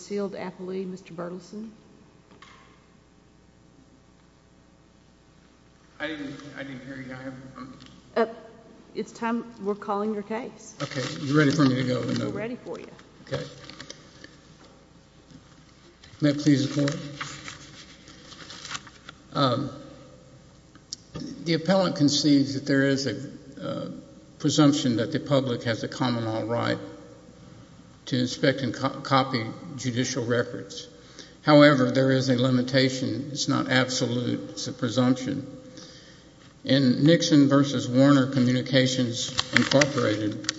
Appellee, Mr. Berthelsen. I didn't hear you. It's time. We're calling your case. Okay, you're ready for me to go. We're ready for you. Okay. to inspect and copy judicial records. However, there is a limitation. It's not absolute. It's a presumption. In Nixon v. Warner Communications, Incorporated.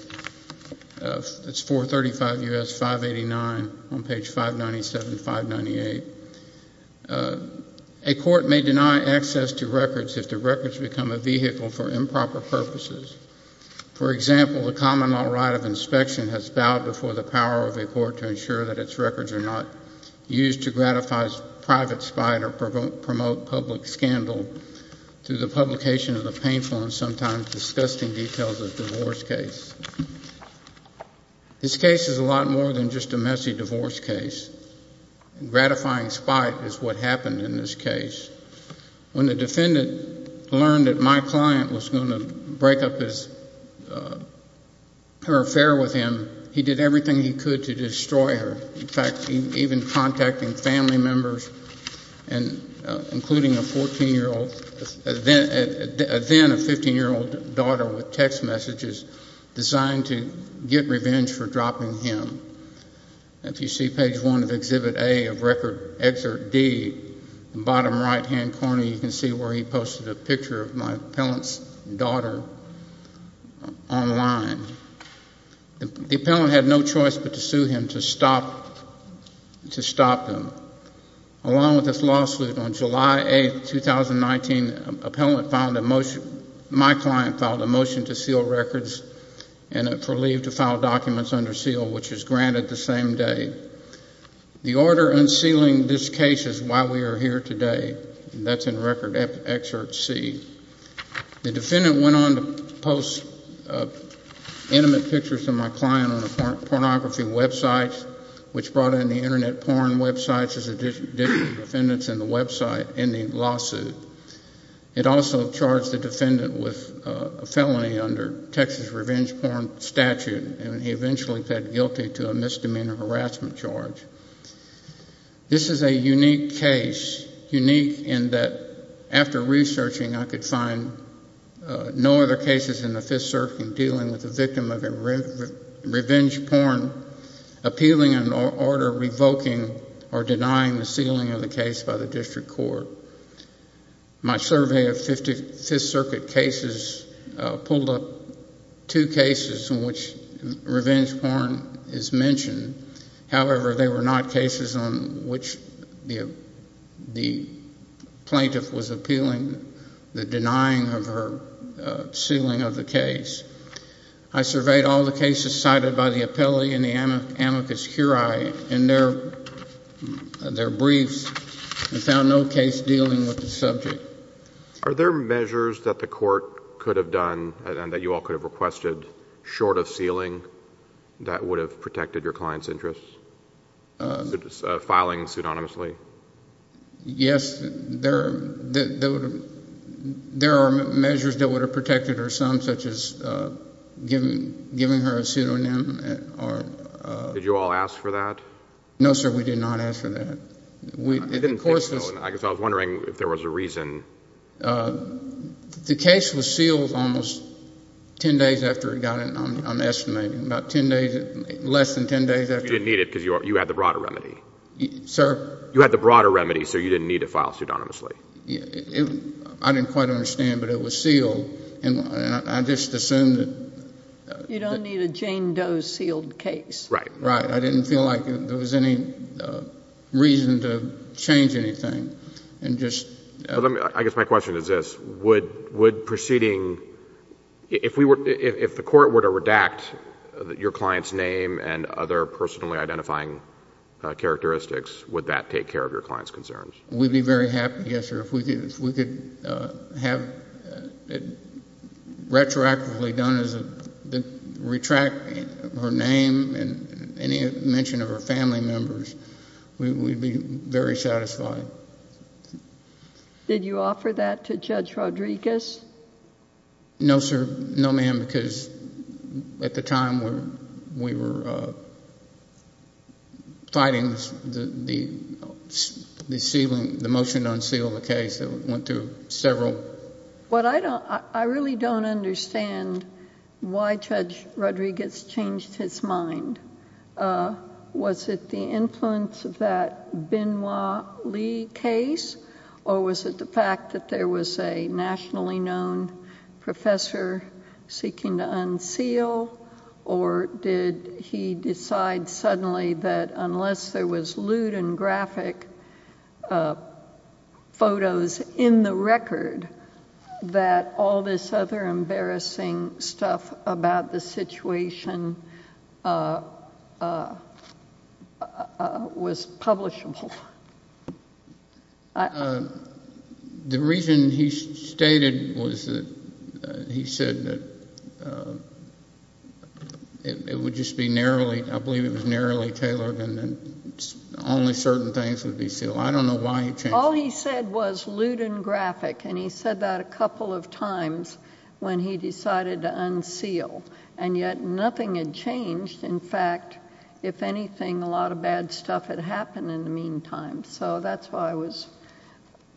It's 435 U.S. 589 on page 597-598. A court may deny access to records if the records become a vehicle for improper purposes. For example, if a person's ID is not valid, the common law right of inspection has bowed before the power of a court to ensure that its records are not used to gratify private spite or promote public scandal through the publication of the painful and sometimes disgusting details of divorce case. This case is a lot more than just a messy divorce case. Gratifying spite is what happened in this case. When the defendant learned that my client was going to break up his affair with him, he did everything he could to destroy her. In fact, even contacting family members, including a 14-year-old, then a 15-year-old daughter with text messages designed to get revenge for dropping him. If you see page 1 of Exhibit A of Record Excerpt D, the bottom right-hand corner, you will see a picture of my client. My client filed a motion to seal records and for leave to file documents under seal, which was granted the same day. The order unsealing this case is why we are here today, and that's in Record Excerpt C. The defendant went on to post a letter to my client, which was intimate pictures of my client on a pornography website, which brought in the Internet porn websites as additional defendants in the lawsuit. It also charged the defendant with a felony under Texas Revenge Porn statute, and he eventually pled guilty to a misdemeanor harassment charge. This is a unique case, unique in that after researching, I could find no other cases in the Fifth Circuit dealing with a victim of sexual assault. This is a unique case of a victim of revenge porn appealing an order revoking or denying the sealing of the case by the district court. My survey of Fifth Circuit cases pulled up two cases in which revenge porn is mentioned. However, they were not cases on which the plaintiff was appealing the denying of her sealing of the case. I surveyed all the cases cited by the appellee and the amicus curiae in their briefs and found no case dealing with the subject. Are there measures that the court could have done, and that you all could have requested, short of sealing, that would have protected your client's interests, filing pseudonymously? Yes, there are measures that would have protected her, some such as giving her a pseudonym. Did you all ask for that? No, sir, we did not ask for that. I was wondering if there was a reason. The case was sealed almost ten days after it got in, I'm estimating, about ten days, less than ten days after. You didn't need it because you had the broader remedy. Sir? You had the broader remedy, so you didn't need to file pseudonymously. I didn't quite understand, but it was sealed, and I just assumed that. You don't need a Jane Doe sealed case. Right. I didn't feel like there was any reason to change anything. I guess my question is this. If the court were to redact your client's name and other personally identifying characteristics, would that take care of your client's concerns? We'd be very happy, yes, sir. If we could have it retroactively done, retract her name and any mention of her family members, we'd be very satisfied. Did you offer that to Judge Rodriguez? No, sir, no, ma'am, because at the time, we were fighting the motion to unseal the case. I really don't understand why Judge Rodriguez changed his mind. Was it the influence of that Benoit Lee case, or was it the fact that there was a nationally known professor seeking to unseal, or did he decide suddenly that unless there was lewd and graphic photos of Benoit Lee, he was going to unseal the case? It was in the record that all this other embarrassing stuff about the situation was publishable. The reason he stated was that he said that it would just be narrowly, I believe it was narrowly tailored, and only certain things would be sealed. All he said was lewd and graphic, and he said that a couple of times when he decided to unseal, and yet nothing had changed. In fact, if anything, a lot of bad stuff had happened in the meantime, so that's why I was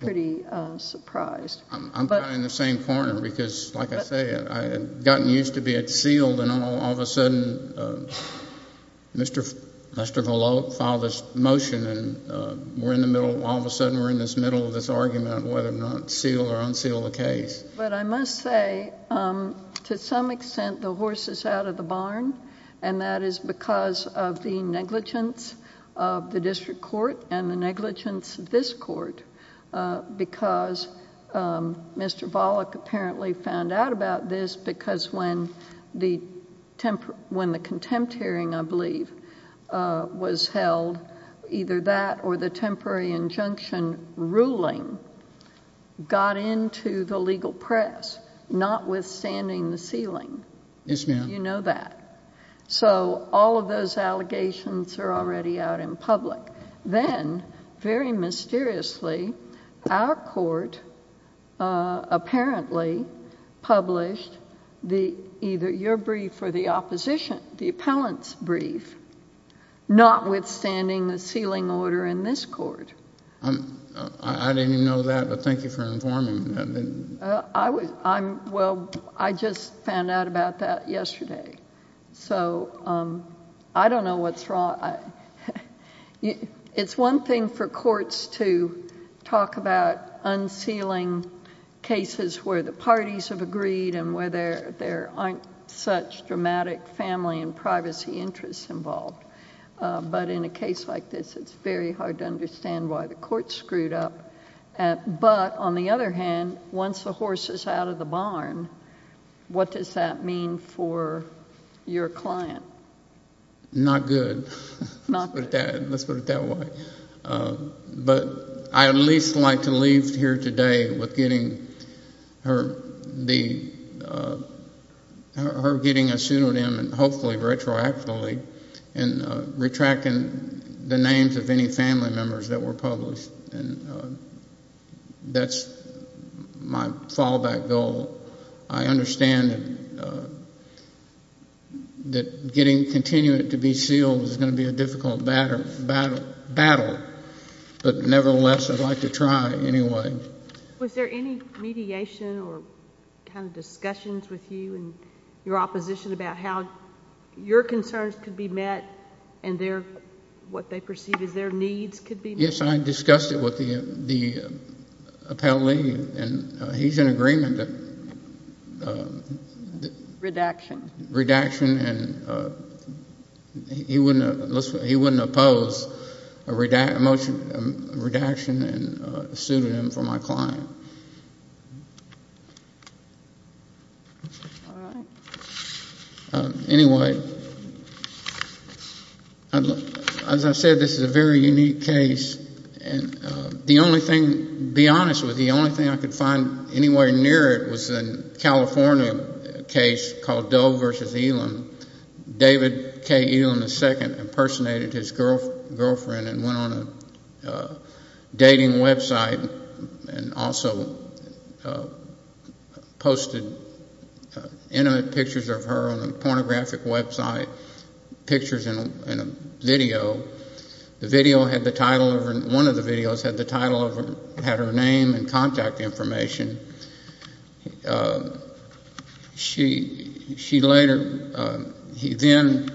pretty surprised. I'm kind of in the same corner, because like I say, I had gotten used to being sealed, and all of a sudden, Mr. Volokh filed this motion, and all of a sudden, we're in the middle of this argument of whether to seal or unseal the case. But I must say, to some extent, the horse is out of the barn, and that is because of the negligence of the district court, and the negligence of this court, because Mr. Volokh apparently found out about this, because when the contempt hearing, I believe, was held, either that or the temporary injunction ruling got into the legal press, notwithstanding the sealing. You know that. So all of those allegations are already out in public. Then, very mysteriously, our court apparently published either your brief or the opposition, the appellant's brief, notwithstanding the sealing order in this court. I didn't know that, but thank you for informing me. Well, I just found out about that yesterday, so I don't know what's wrong. It's one thing for courts to talk about unsealing cases where the parties have agreed, and where there aren't such dramatic family and privacy interests involved, but in a case like this, it's very hard to understand why the court screwed up. But, on the other hand, once the horse is out of the barn, what does that mean for your client? Not good. Let's put it that way. But I'd at least like to leave here today with her getting a pseudonym, and hopefully retroactively, and retracting the names of any family members that were published. That's my fallback goal. I understand that getting continued to be sealed is going to be a difficult battle, but nevertheless, I'd like to try anyway. Was there any mediation or kind of discussions with you and your opposition about how your concerns could be met and what they perceive as their needs could be met? Yes, I discussed it with the appellee, and he's in agreement that... Redaction. Redaction, and he wouldn't oppose a motion of redaction and a pseudonym for my client. All right. Anyway, as I said, this is a very unique case, and the only thing... to be honest with you, the only thing I could find anywhere near it was a California case called Doe v. Elam. David K. Elam II impersonated his girlfriend and went on a dating website, and also posted intimate pictures of her on a pornographic website, pictures and a video. The video had the title of... one of the videos had the title of... had her name and contact information. She later... he then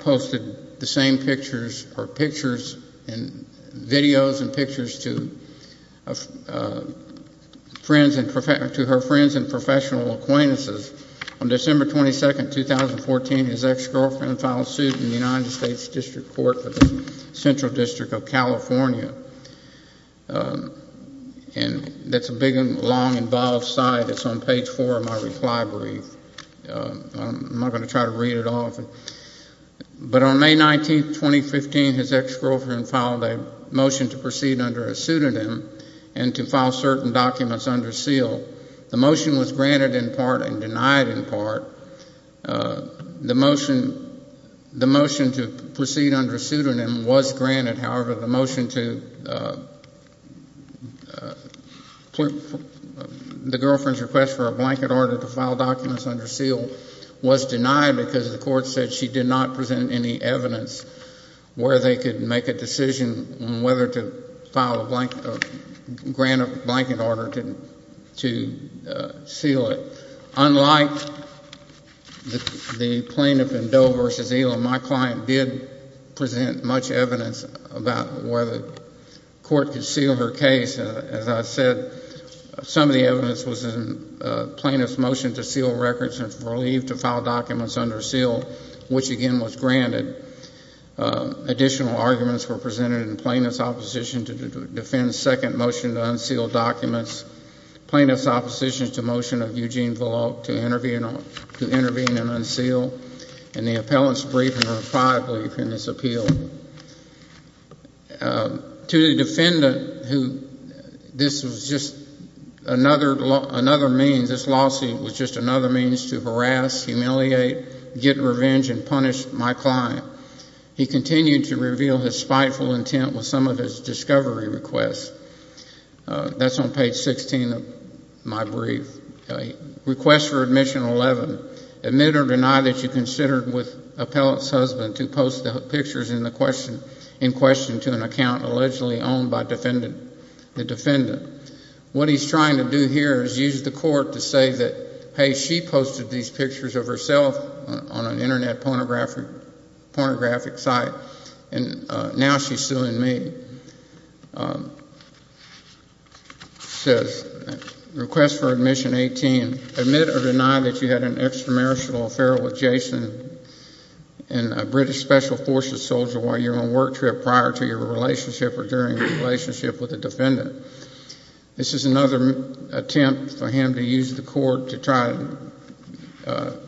posted the same pictures, or pictures, and videos and pictures, to friends and... to her friends and professional acquaintances. On December 22, 2014, his ex-girlfriend filed suit in the United States District Court for the Central District of California. And that's a big, long, involved site. It's on page four of my reply brief. I'm not going to try to read it off. But on May 19, 2015, his ex-girlfriend filed a motion to proceed under a pseudonym and to file certain documents under seal. The motion was granted in part and denied in part. The motion to proceed under a pseudonym was granted. However, the motion to... the girlfriend's request for a blanket order to file documents under seal was denied because the court said she did not present any evidence where they could make a decision on whether to file a blanket... grant a blanket order to seal it. Unlike the plaintiff in Doe v. Elam, my client did present much evidence about whether the court could seal her case. As I said, some of the evidence was in plaintiff's motion to seal records and for leave to file documents under seal, which again was granted. Additional arguments were presented in plaintiff's opposition to defend second motion to unseal documents, plaintiff's opposition to motion of Eugene Volokh to intervene and unseal, and the appellant's brief and reply brief in this appeal. To the defendant who... this was just another means... this lawsuit was just another means to harass, humiliate, get revenge, and punish my client, he continued to reveal his spiteful intent with some of his discovery requests. That's on page 16 of my brief. What he's trying to do here is use the court to say that, hey, she posted these pictures of herself on an Internet pornographic site and now she's suing me. He says, request for admission 18, admit or deny that you had an extramarital affair with Jason and a British Special Forces soldier while you were on a work trip prior to your relationship or during your relationship with the defendant. This is another attempt for him to use the court to try to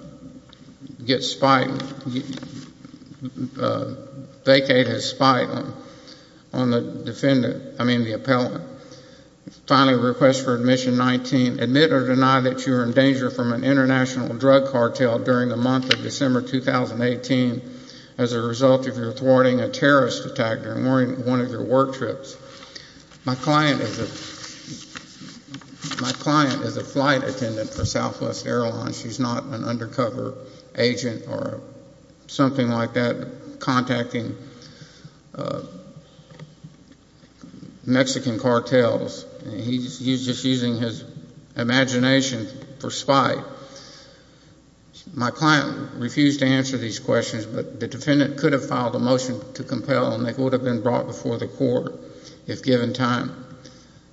get spite... vacate his spite on the defendant, I mean the appellant. Finally, request for admission 19, admit or deny that you were in danger from an international drug cartel during the month of December 2018 as a result of your thwarting a terrorist attack during one of your work trips. My client is a... my client is a flight attendant for Southwest Airlines. She's not an undercover agent or something like that contacting Mexican companies. She's a flight attendant for Mexican cartels and he's just using his imagination for spite. My client refused to answer these questions, but the defendant could have filed a motion to compel and they would have been brought before the court if given time.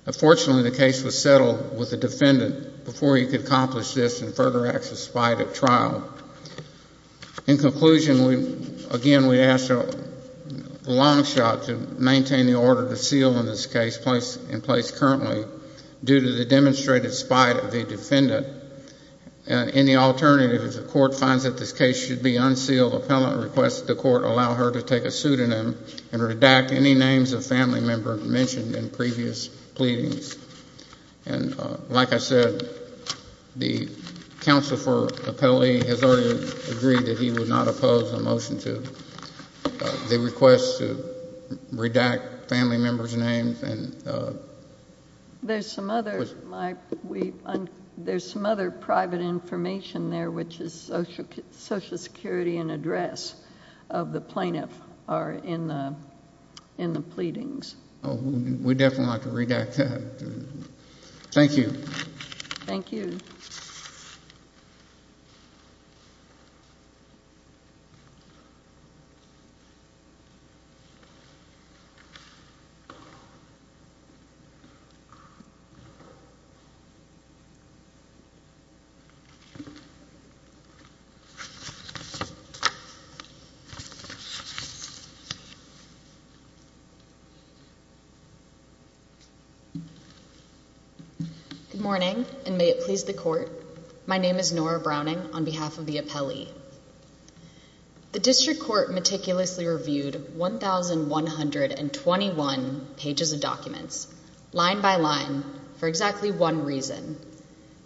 Unfortunately, the case was settled with the defendant before he could accomplish this and further acts of spite at trial. In conclusion, again, we ask for a long shot to maintain the order to seal in this case. This is in place currently due to the demonstrated spite of the defendant. Any alternative, if the court finds that this case should be unsealed, appellant requests the court allow her to take a pseudonym and redact any names of family members mentioned in previous pleadings. Like I said, the counsel for appellee has already agreed that he would not oppose the motion to... They request to redact family members' names and... There's some other private information there which is Social Security and address of the plaintiff in the pleadings. We definitely want to redact that. Thank you. Good morning and may it please the court. My name is Nora Browning on behalf of the appellee. The district court meticulously reviewed 1,121 pages of documents, line by line, for exactly one reason.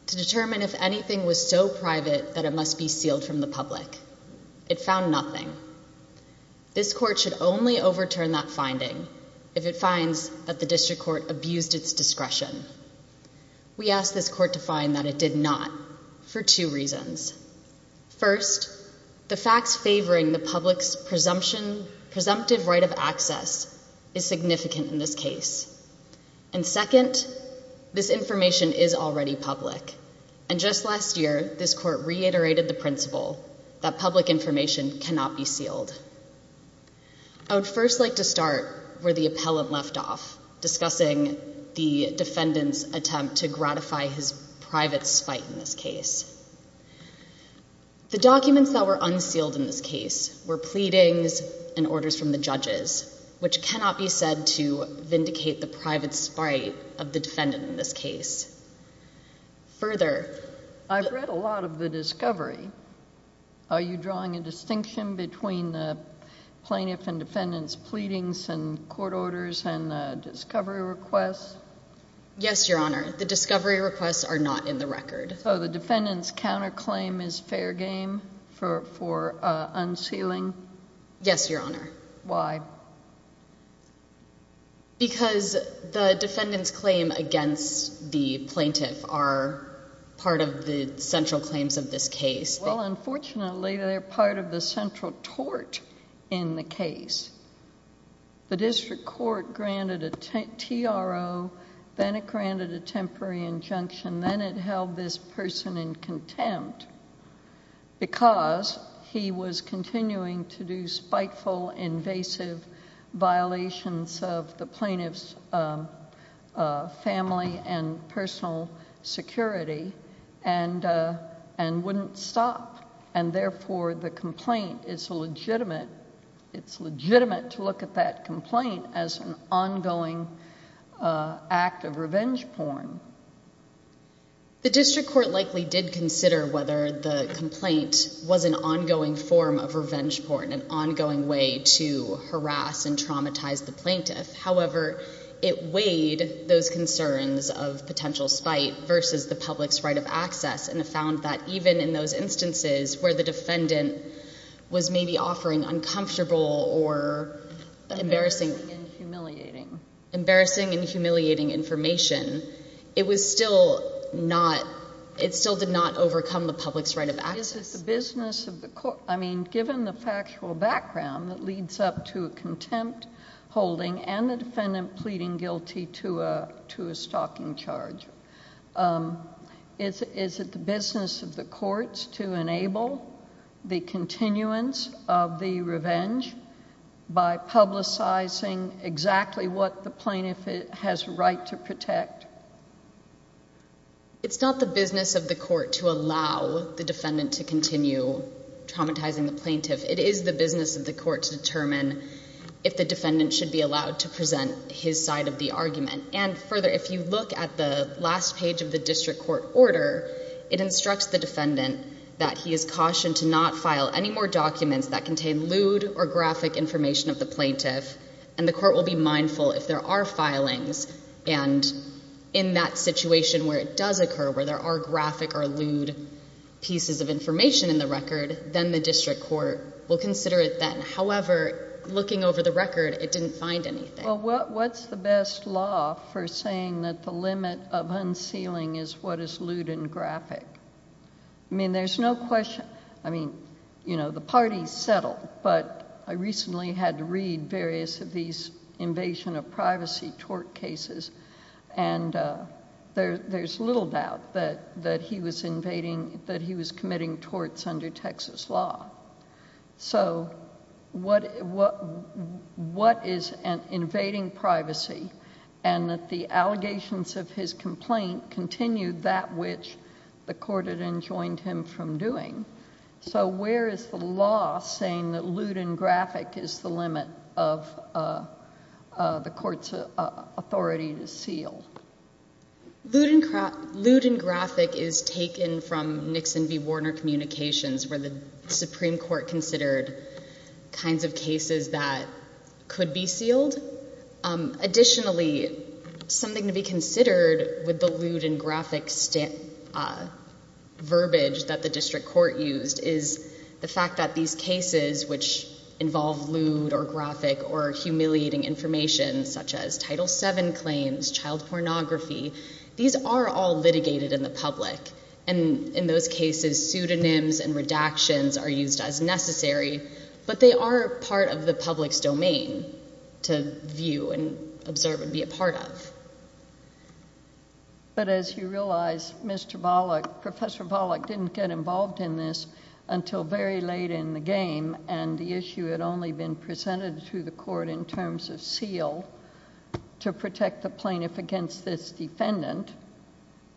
To determine if anything was so private that it must be sealed from the public. It found nothing. This court should only overturn that finding if it finds that the district court abused its discretion. We ask this court to find that it did not for two reasons. First, the facts favoring the public's presumptive right of access is significant in this case. And second, this information is already public. And just last year, this court reiterated the principle that public information cannot be sealed. I would first like to start where the appellant left off, discussing the defendant's attempt to gratify his private spite in this case. The documents that were unsealed in this case were pleadings and orders from the judges, which cannot be said to vindicate the private spite of the defendant in this case. Further, I've read a lot of the discovery. Are you drawing a distinction between the plaintiff and defendant's pleadings and court orders and discovery requests? Yes, Your Honor. The discovery requests are not in the record. So the defendant's counterclaim is fair game for unsealing? Yes, Your Honor. Why? Because the defendant's claim against the plaintiff are part of the central claims of this case. Well, unfortunately, they're part of the central tort in the case. The district court granted a TRO, then it granted a temporary injunction, then it held this person in contempt because he was continuing to do spiteful, invasive violations of the plaintiff's family and personal security and wouldn't stop. And therefore, the complaint is legitimate. It's legitimate to look at that complaint as an ongoing act of revenge porn. The district court likely did consider whether the complaint was an ongoing form of revenge porn, an ongoing way to harass and traumatize the plaintiff. However, it weighed those concerns of potential spite versus the public's right of access and found that even in those instances where the defendant was maybe offering uncomfortable or embarrassing and humiliating information, it still did not overcome the public's right of access. Given the factual background that leads up to a contempt holding and the defendant pleading guilty to a stalking charge, is it the business of the courts to enable the continuance of the revenge by publicizing exactly what the plaintiff has a right to protect? It's not the business of the court to allow the defendant to continue traumatizing the plaintiff. It is the business of the court to determine if the defendant should be allowed to present his side of the argument. And further, if you look at the last page of the district court order, it instructs the defendant that he is cautioned to not file any more documents that contain lewd or graphic information of the plaintiff. And the court will be mindful if there are filings. And in that situation where it does occur, where there are graphic or lewd pieces of information in the record, then the district court will consider it then. However, looking over the record, it didn't find anything. Well, what's the best law for saying that the limit of unsealing is what is lewd and graphic? I mean, there's no question. I mean, you know, the parties settled, but I recently had to read various of these invasion of privacy tort cases, and there's little doubt that he was committing torts under Texas law. So what is invading privacy? And that the allegations of his complaint continue that which the court had enjoined him from doing. So where is the law saying that lewd and graphic is the limit of the court's authority to seal? Lewd and graphic is taken from Nixon v. Warner Communications where the Supreme Court considered kinds of cases that could be sealed. Additionally, something to be considered with the lewd and graphic verbiage that the district court used is the fact that these cases which involve lewd or graphic or humiliating information, such as Title VII claims, child pornography, these are all litigated in the public. And in those cases, pseudonyms and redactions are used as necessary, but they are part of the public's domain to view and observe and be a part of. But as you realize, Mr. Bollock, Professor Bollock didn't get involved in this until very late in the game, and the issue had only been presented to the court in terms of seal to protect the plaintiff against this defendant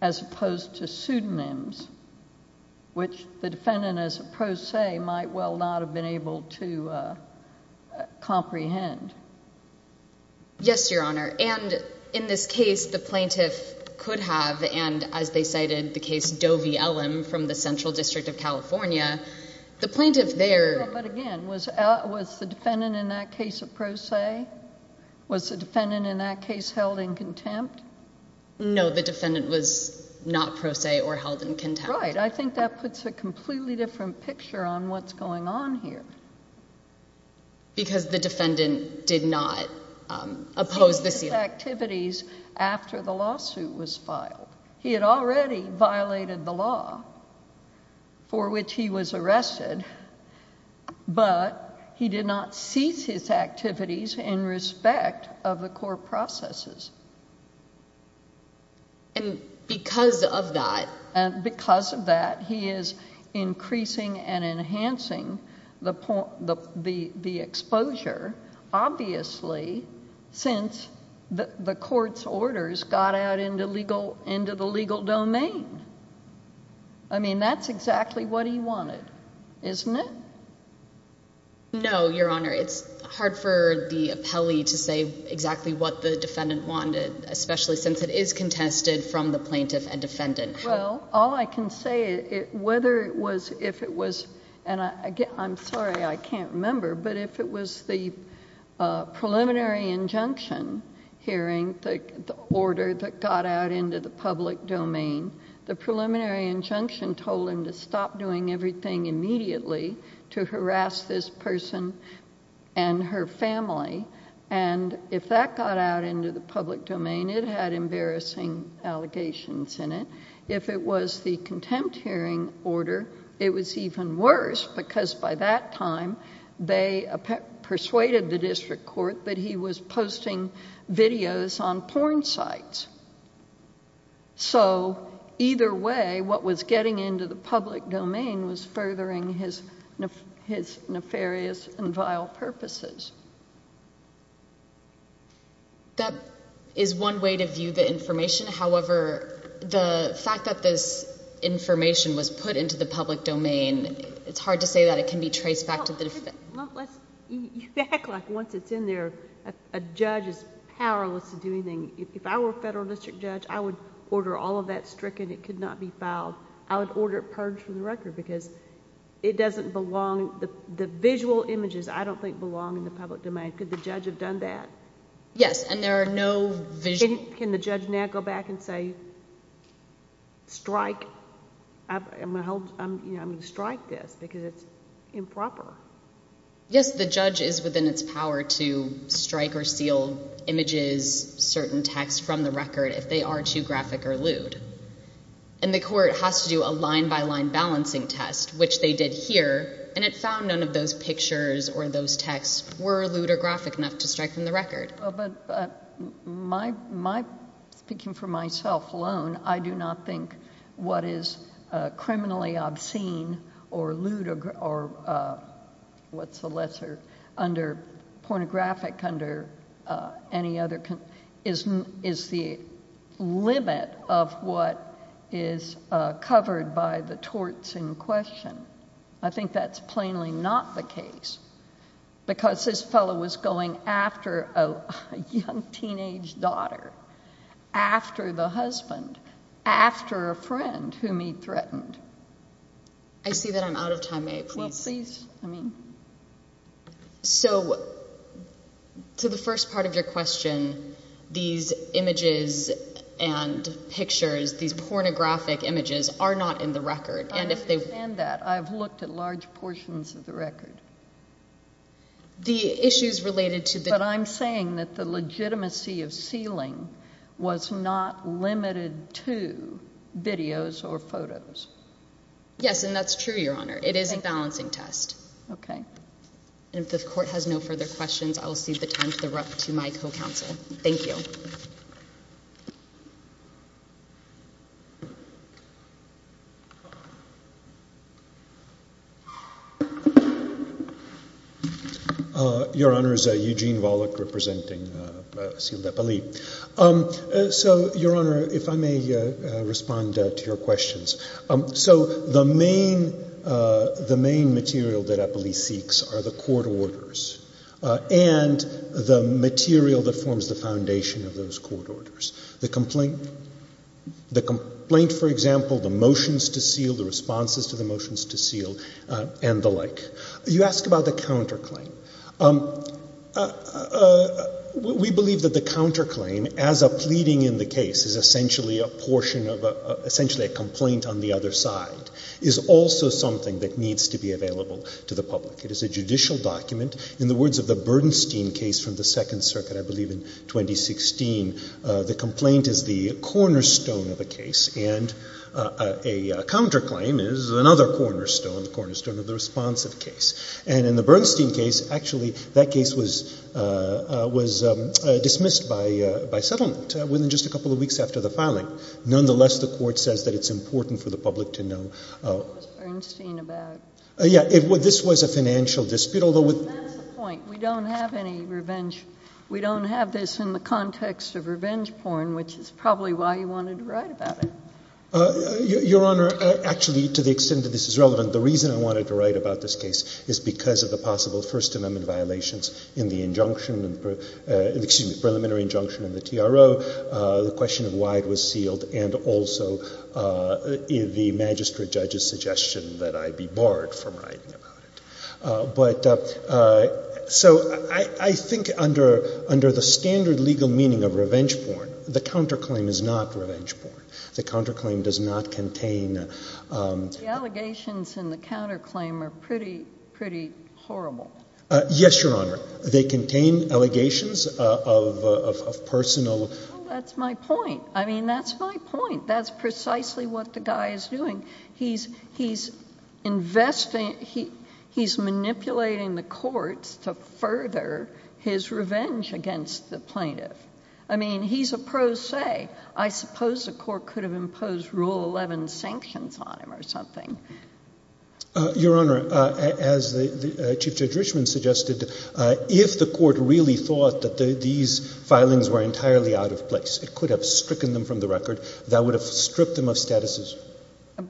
as opposed to pseudonyms, which the defendant as a pro se might well not have been able to comprehend. Yes, Your Honor, and in this case, the plaintiff could have, and as they cited the case Doe v. Ellum from the Central District of California, the plaintiff there- But again, was the defendant in that case a pro se? Was the defendant in that case held in contempt? No, the defendant was not pro se or held in contempt. Right. I think that puts a completely different picture on what's going on here. Because the defendant did not oppose the seal. after the lawsuit was filed. He had already violated the law for which he was arrested, but he did not cease his activities in respect of the court processes. And because of that- And because of that, he is increasing and enhancing the exposure, obviously, since the court's orders got out into the legal domain. I mean, that's exactly what he wanted, isn't it? No, Your Honor. It's hard for the appellee to say exactly what the defendant wanted, especially since it is contested from the plaintiff and defendant. Well, all I can say is whether it was- I'm sorry, I can't remember, but if it was the preliminary injunction hearing, the order that got out into the public domain, the preliminary injunction told him to stop doing everything immediately to harass this person and her family. And if that got out into the public domain, it had embarrassing allegations in it. If it was the contempt hearing order, it was even worse, because by that time they persuaded the district court that he was posting videos on porn sites. So either way, what was getting into the public domain was furthering his nefarious and vile purposes. That is one way to view the information. However, the fact that this information was put into the public domain, it's hard to say that it can be traced back to the defendant. You act like once it's in there, a judge is powerless to do anything. If I were a federal district judge, I would order all of that stricken. It could not be filed. I would order it purged from the record because it doesn't belong... the visual images I don't think belong in the public domain. Could the judge have done that? Yes, and there are no visual... Can the judge now go back and say, strike... I'm going to strike this because it's improper? Yes, the judge is within its power to strike or seal images, certain texts from the record if they are too graphic or lewd. And the court has to do a line-by-line balancing test, which they did here, and it found none of those pictures or those texts were lewd or graphic enough to strike from the record. Speaking for myself alone, I do not think what is criminally obscene or lewd or... what's the lesser under... pornographic under any other... is the limit of what is covered by the torts in question. Because this fellow was going after a young teenage daughter, after the husband, after a friend whom he threatened. I see that I'm out of time. May I please... Well, please. I mean... So, to the first part of your question, these images and pictures, these pornographic images, are not in the record. I understand that. I've looked at large portions of the record. The issues related to the... But I'm saying that the legitimacy of sealing was not limited to videos or photos. Yes, and that's true, Your Honor. It is a balancing test. Okay. And if the court has no further questions, I will cede the time to the rep to my co-counsel. Thank you. Your Honor, this is Eugene Volokh representing the seal of Eppoli. So, Your Honor, if I may respond to your questions. So, the main material that Eppoli seeks are the court orders. And the material that forms the foundation of those court orders. The complaint, for example, the motions to seal, the responses to the motions to seal, and the like. You ask about the counterclaim. We believe that the counterclaim, as a pleading in the case, is essentially a portion of a... essentially a complaint on the other side, is also something that needs to be available to the public. It is a judicial document. In the words of the Bernstein case from the Second Circuit, I believe in 2016, the complaint is the cornerstone of a case. And a counterclaim is another cornerstone, the cornerstone of the responsive case. And in the Bernstein case, actually, that case was dismissed by settlement within just a couple of weeks after the filing. Nonetheless, the court says that it's important for the public to know... What was Bernstein about? Yeah. This was a financial dispute, although with... That's the point. We don't have any revenge. We don't have this in the context of revenge porn, which is probably why you wanted to write about it. Your Honor, actually, to the extent that this is relevant, the reason I wanted to write about this case is because of the possible First Amendment violations in the injunction and the preliminary injunction in the TRO, the question of why it was sealed, and also the magistrate judge's suggestion that I be barred from writing about it. But so I think under the standard legal meaning of revenge porn, the counterclaim is not revenge porn. The counterclaim does not contain... The allegations in the counterclaim are pretty horrible. Yes, Your Honor. They contain allegations of personal... That's my point. I mean, that's my point. That's precisely what the guy is doing. He's investing... He's manipulating the courts to further his revenge against the plaintiff. I mean, he's a pro se. I suppose the court could have imposed Rule 11 sanctions on him or something. Your Honor, as the Chief Judge Richman suggested, if the court really thought that these filings were entirely out of place, it could have stricken them from the record. That would have stripped them of statuses.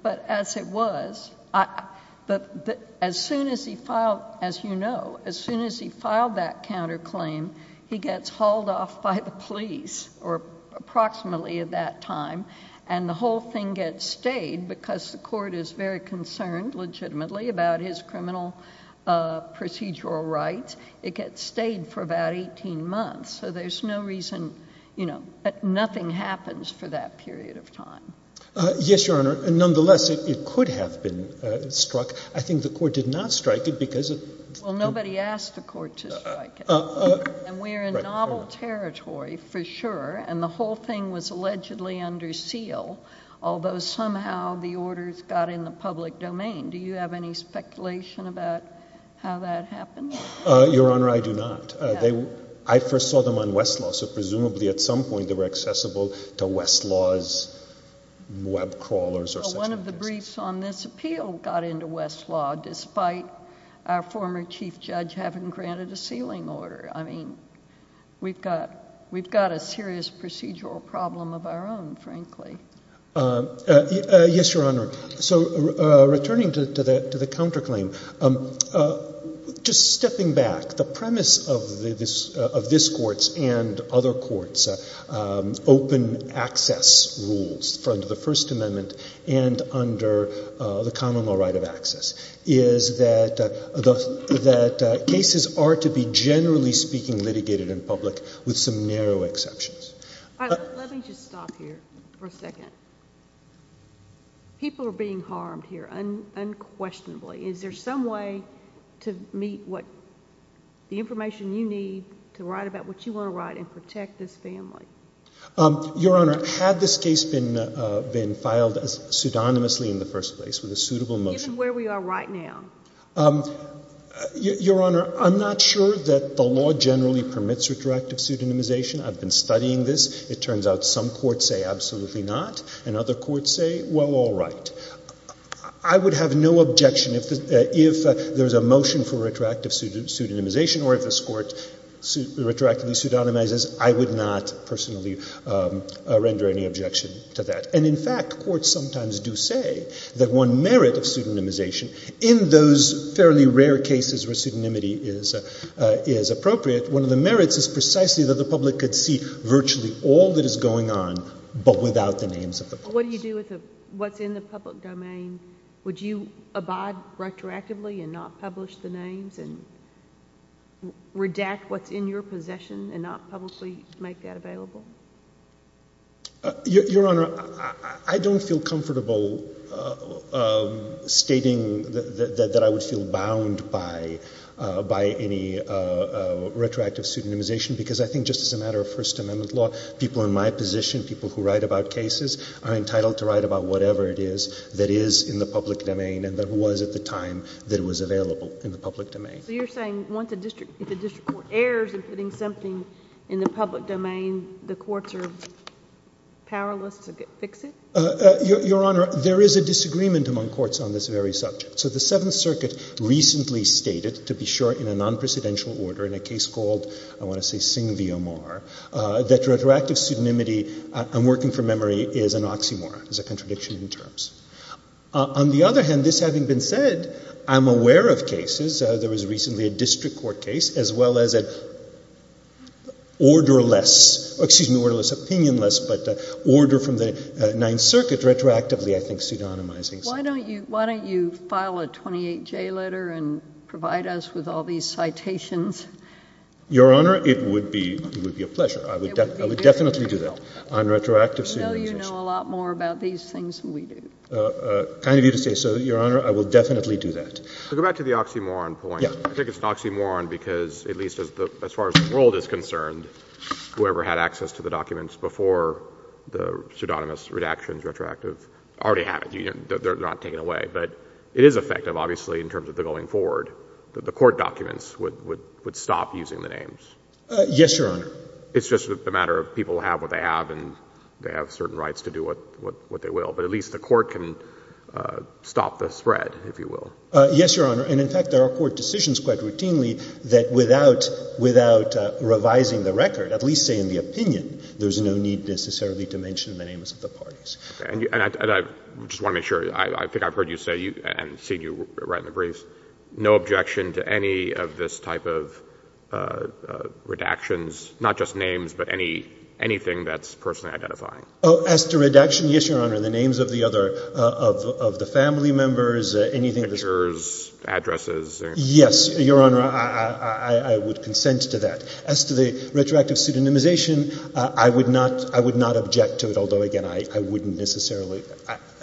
But as it was, as soon as he filed, as you know, as soon as he filed that counterclaim, he gets hauled off by the police, or approximately at that time, and the whole thing gets stayed because the court is very concerned legitimately about his criminal procedural rights. It gets stayed for about 18 months. So there's no reason, you know, nothing happens for that period of time. Yes, Your Honor. Nonetheless, it could have been struck. I think the court did not strike it because... Well, nobody asked the court to strike it. And we're in novel territory, for sure, and the whole thing was allegedly under seal, although somehow the orders got in the public domain. Do you have any speculation about how that happened? Your Honor, I do not. I first saw them on Westlaw. So presumably at some point they were accessible to Westlaw's web crawlers or such. Well, one of the briefs on this appeal got into Westlaw, despite our former chief judge having granted a sealing order. I mean, we've got a serious procedural problem of our own, frankly. Yes, Your Honor. So returning to the counterclaim, just stepping back, the premise of this Court's and other courts' open access rules under the First Amendment and under the common law right of access is that cases are to be, generally speaking, litigated in public with some narrow exceptions. Let me just stop here for a second. People are being harmed here unquestionably. Is there some way to meet the information you need to write about what you want to write and protect this family? Your Honor, had this case been filed pseudonymously in the first place with a suitable motion? Even where we are right now. Your Honor, I'm not sure that the law generally permits redirective pseudonymization. I've been studying this. It turns out some courts say absolutely not, and other courts say, well, all right. I would have no objection if there's a motion for retroactive pseudonymization or if this Court retroactively pseudonymizes. I would not personally render any objection to that. And, in fact, courts sometimes do say that one merit of pseudonymization, in those fairly rare cases where pseudonymity is appropriate, one of the merits is precisely that the public could see virtually all that is going on, but without the names of the person. What do you do with what's in the public domain? Would you abide retroactively and not publish the names and redact what's in your possession and not publicly make that available? Your Honor, I don't feel comfortable stating that I would feel bound by any retroactive pseudonymization because I think just as a matter of First Amendment law, people in my position, people who write about cases, are entitled to write about whatever it is that is in the public domain and that was at the time that it was available in the public domain. So you're saying once a district court errs in putting something in the public domain, the courts are powerless to fix it? Your Honor, there is a disagreement among courts on this very subject. So the Seventh Circuit recently stated, to be sure, in a non-presidential order, in a case called, I want to say, Singh v. Omar, that retroactive pseudonymity, I'm working from memory, is an oxymoron, is a contradiction in terms. On the other hand, this having been said, I'm aware of cases. There was recently a district court case as well as an orderless, excuse me, orderless, opinionless, but order from the Ninth Circuit retroactively, I think, pseudonymizing. Why don't you file a 28J letter and provide us with all these citations? Your Honor, it would be a pleasure. I would definitely do that on retroactive pseudonymization. I know you know a lot more about these things than we do. Kind of you to say so, Your Honor. I will definitely do that. To go back to the oxymoron point, I think it's an oxymoron because, at least as far as the world is concerned, whoever had access to the documents before the pseudonymous redactions, retroactive, already have it. They're not taken away. But it is effective, obviously, in terms of the going forward. The court documents would stop using the names. Yes, Your Honor. It's just a matter of people have what they have and they have certain rights to do what they will. But at least the court can stop the spread, if you will. Yes, Your Honor. And, in fact, there are court decisions quite routinely that without revising the record, at least say in the opinion, there's no need necessarily to mention the names of the parties. And I just want to make sure. I think I've heard you say, and seen you write in the briefs, no objection to any of this type of redactions, not just names, but anything that's personally identifying. As to redaction, yes, Your Honor. The names of the other, of the family members, anything. Pictures, addresses. Yes, Your Honor. I would consent to that. As to the retroactive pseudonymization, I would not object to it. Although, again, I wouldn't necessarily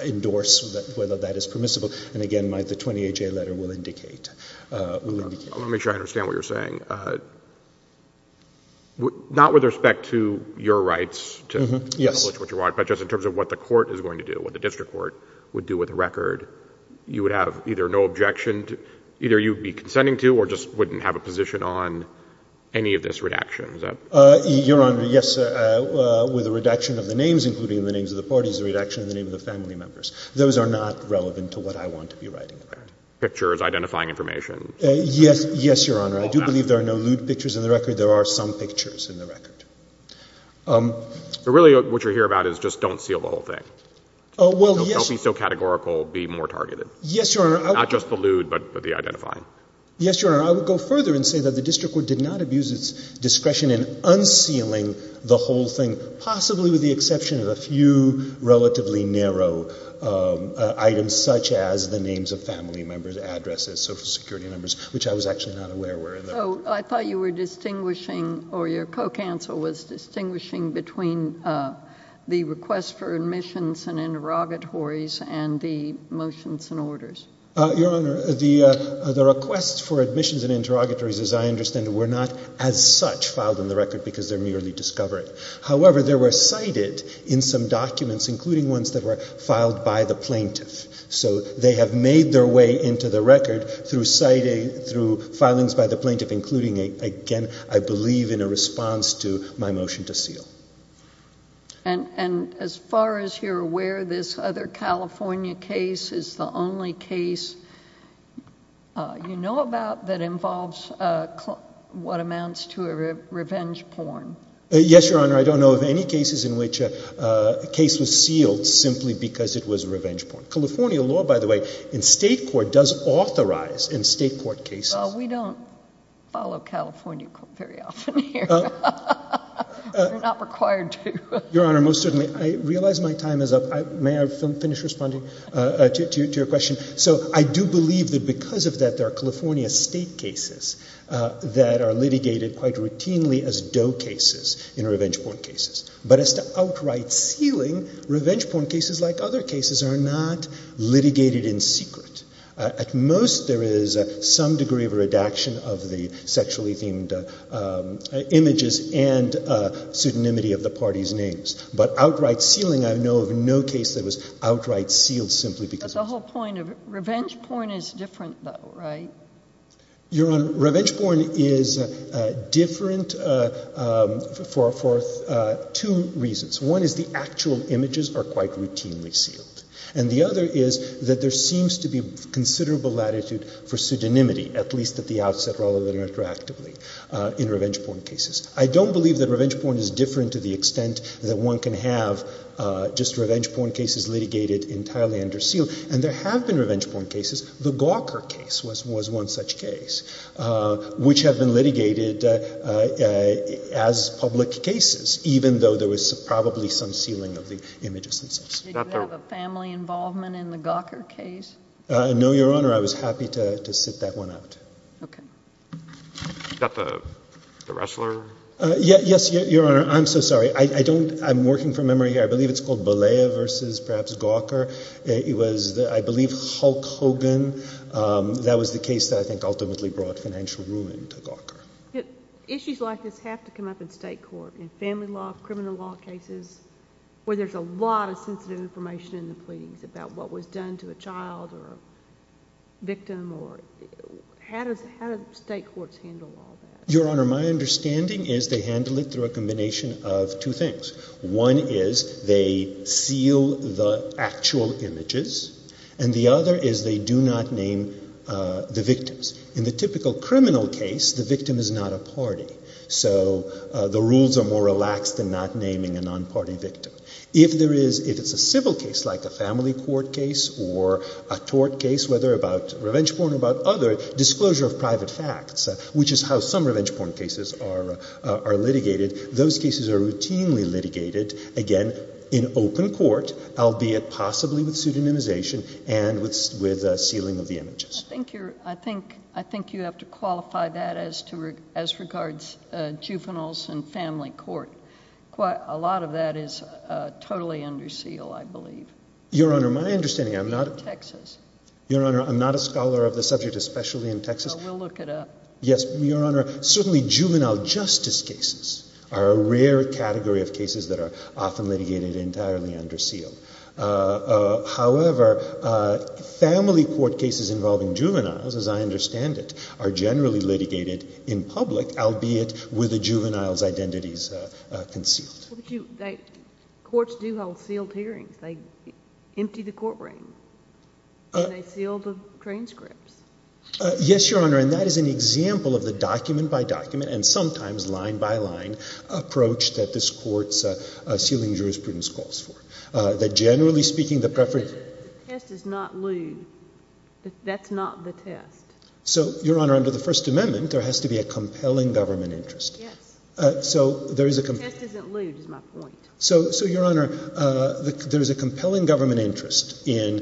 endorse whether that is permissible. And, again, the 20HA letter will indicate. I want to make sure I understand what you're saying. Not with respect to your rights to publish what you want, but just in terms of what the court is going to do, what the district court would do with the record. You would have either no objection to, either you would be consenting to, or just wouldn't have a position on any of this redaction. Your Honor, yes. With the redaction of the names, including the names of the parties, the redaction of the name of the family members. Those are not relevant to what I want to be writing about. Pictures, identifying information. Yes, Your Honor. I do believe there are no lewd pictures in the record. There are some pictures in the record. Really, what you're here about is just don't seal the whole thing. Well, yes. Don't be so categorical. Be more targeted. Yes, Your Honor. Not just the lewd, but the identifying. Yes, Your Honor. I would go further and say that the district court did not abuse its discretion in unsealing the whole thing, possibly with the exception of a few relatively narrow items, such as the names of family members, addresses, social security members, which I was actually not aware were in there. So I thought you were distinguishing, or your co-counsel was distinguishing between the request for admissions and interrogatories and the motions and orders. Your Honor, the requests for admissions and interrogatories, as I understand it, were not as such filed in the record because they're merely discovery. However, they were cited in some documents, including ones that were filed by the plaintiff. So they have made their way into the record through filings by the plaintiff, including, again, I believe in a response to my motion to seal. And as far as you're aware, this other California case is the only case you know about that involves what amounts to a revenge porn. Yes, Your Honor. I don't know of any cases in which a case was sealed simply because it was revenge porn. California law, by the way, in state court does authorize in state court cases. Well, we don't follow California court very often here. You're not required to. Your Honor, most certainly. I realize my time is up. May I finish responding to your question? So I do believe that because of that there are California state cases that are litigated quite routinely as doe cases in revenge porn cases. But as to outright sealing, revenge porn cases, like other cases, are not litigated in secret. At most, there is some degree of redaction of the sexually themed images and pseudonymity of the parties' names. But outright sealing, I know of no case that was outright sealed simply because of it. But the whole point of revenge porn is different, though, right? Your Honor, revenge porn is different for two reasons. One is the actual images are quite routinely sealed. And the other is that there seems to be considerable latitude for pseudonymity, at least at the outset, rather than interactively, in revenge porn cases. I don't believe that revenge porn is different to the extent that one can have just revenge porn cases litigated entirely under seal. And there have been revenge porn cases. The Gawker case was one such case, which have been litigated as public cases, even though there was probably some sealing of the images themselves. Did you have a family involvement in the Gawker case? No, Your Honor. I was happy to sit that one out. Okay. Is that the Ressler? Yes, Your Honor. I'm so sorry. I'm working from memory. I believe it's called Bollea versus perhaps Gawker. It was, I believe, Hulk Hogan. That was the case that I think ultimately brought financial ruin to Gawker. Issues like this have to come up in state court, in family law, criminal law cases, where there's a lot of sensitive information in the pleadings about what was done to a child or a victim. How do state courts handle all that? Your Honor, my understanding is they handle it through a combination of two things. One is they seal the actual images. And the other is they do not name the victims. In the typical criminal case, the victim is not a party. So the rules are more relaxed than not naming a non-party victim. If there is, if it's a civil case, like a family court case or a tort case, whether about revenge porn or about other, disclosure of private facts, which is how some revenge porn cases are litigated, those cases are routinely litigated, again, in open court, albeit possibly with pseudonymization and with sealing of the images. I think you're, I think, I think you have to qualify that as to, as regards juveniles in family court. Quite, a lot of that is totally under seal, I believe. Your Honor, my understanding, I'm not... In Texas. Your Honor, I'm not a scholar of the subject, especially in Texas. Oh, we'll look it up. Yes. Your Honor, certainly juvenile justice cases are a rare category of cases that are often litigated entirely under seal. However, family court cases involving juveniles, as I understand it, are generally litigated in public, albeit with a juvenile's identities concealed. But you, they, courts do hold sealed hearings. They empty the court ring. And they seal the transcripts. Yes, Your Honor, and that is an example of the document-by-document and sometimes line-by-line approach that this Court's sealing jurisprudence calls for. That generally speaking, the preference... But the test is not lewd. That's not the test. So, Your Honor, under the First Amendment, there has to be a compelling government interest. Yes. So, there is a compelling... The test isn't lewd, is my point. So, Your Honor, there is a compelling government interest in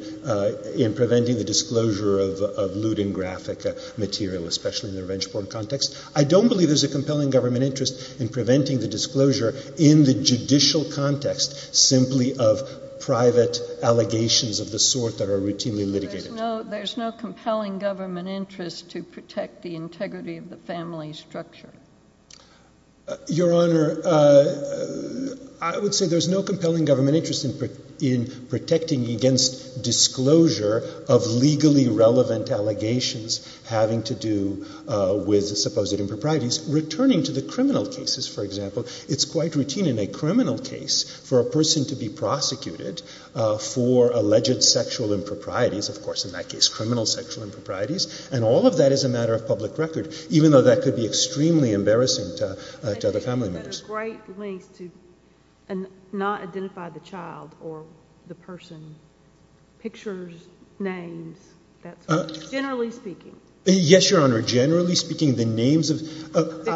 preventing the disclosure of lewd and graphic material, especially in the revenge porn context. I don't believe there's a compelling government interest in preventing the disclosure in the judicial context simply of private allegations of the sort that are routinely litigated. There's no compelling government interest to protect the integrity of the family structure. Your Honor, I would say there's no compelling government interest in protecting against disclosure of legally relevant allegations having to do with supposed improprieties. Returning to the criminal cases, for example, it's quite routine in a criminal case for a person to be prosecuted for alleged sexual improprieties. Of course, in that case, criminal sexual improprieties. And all of that is a matter of public record, even though that could be extremely embarrassing to other family members. But you've got a great length to not identify the child or the person, pictures, names, that sort of thing. Generally speaking. Yes, Your Honor. Generally speaking, the names of...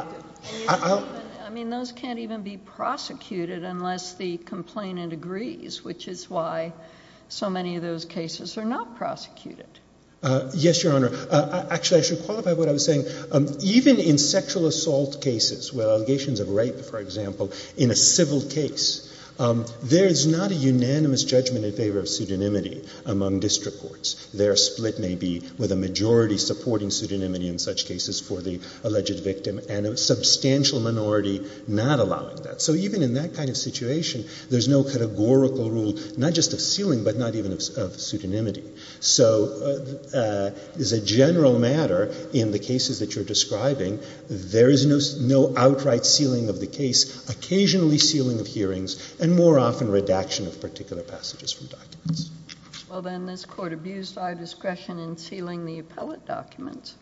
I mean, those can't even be prosecuted unless the complainant agrees, which is why so many of those cases are not prosecuted. Yes, Your Honor. Actually, I should qualify what I was saying. Even in sexual assault cases, where allegations of rape, for example, in a civil case, there's not a unanimous judgment in favor of pseudonymity among district courts. Their split may be with a majority supporting pseudonymity in such cases for the alleged victim and a substantial minority not allowing that. So even in that kind of situation, there's no categorical rule, not just of sealing, but not even of pseudonymity. So as a general matter, in the cases that you're describing, there is no outright sealing of the case, occasionally sealing of hearings, and more often redaction of particular passages from documents. Well, then this Court abused our discretion in sealing the appellate documents,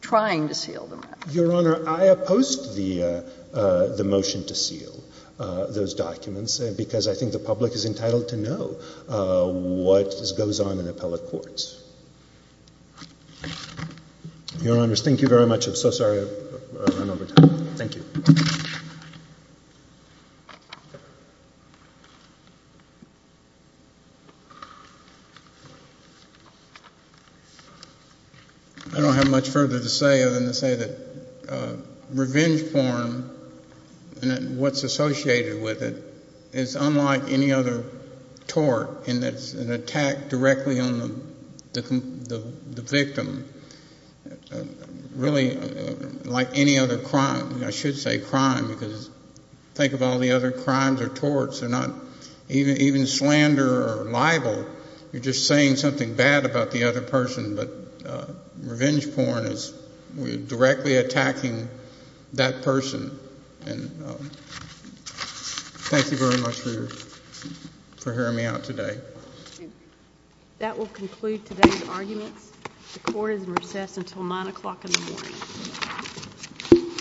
trying to seal them. Your Honor, I oppose the motion to seal those documents because I think the public is entitled to know what goes on in appellate courts. Your Honors, thank you very much. I'm so sorry I ran over time. Thank you. I don't have much further to say other than to say that revenge porn and what's associated with it is unlike any other tort in that it's an attack directly on the victim. Really, like any other crime, I should say crime because think of all the other crimes or torts. They're not even slander or libel. You're just saying something bad about the other person. But revenge porn is directly attacking that person. And thank you very much for hearing me out today. That will conclude today's arguments. The Court is in recess until 9 o'clock in the morning.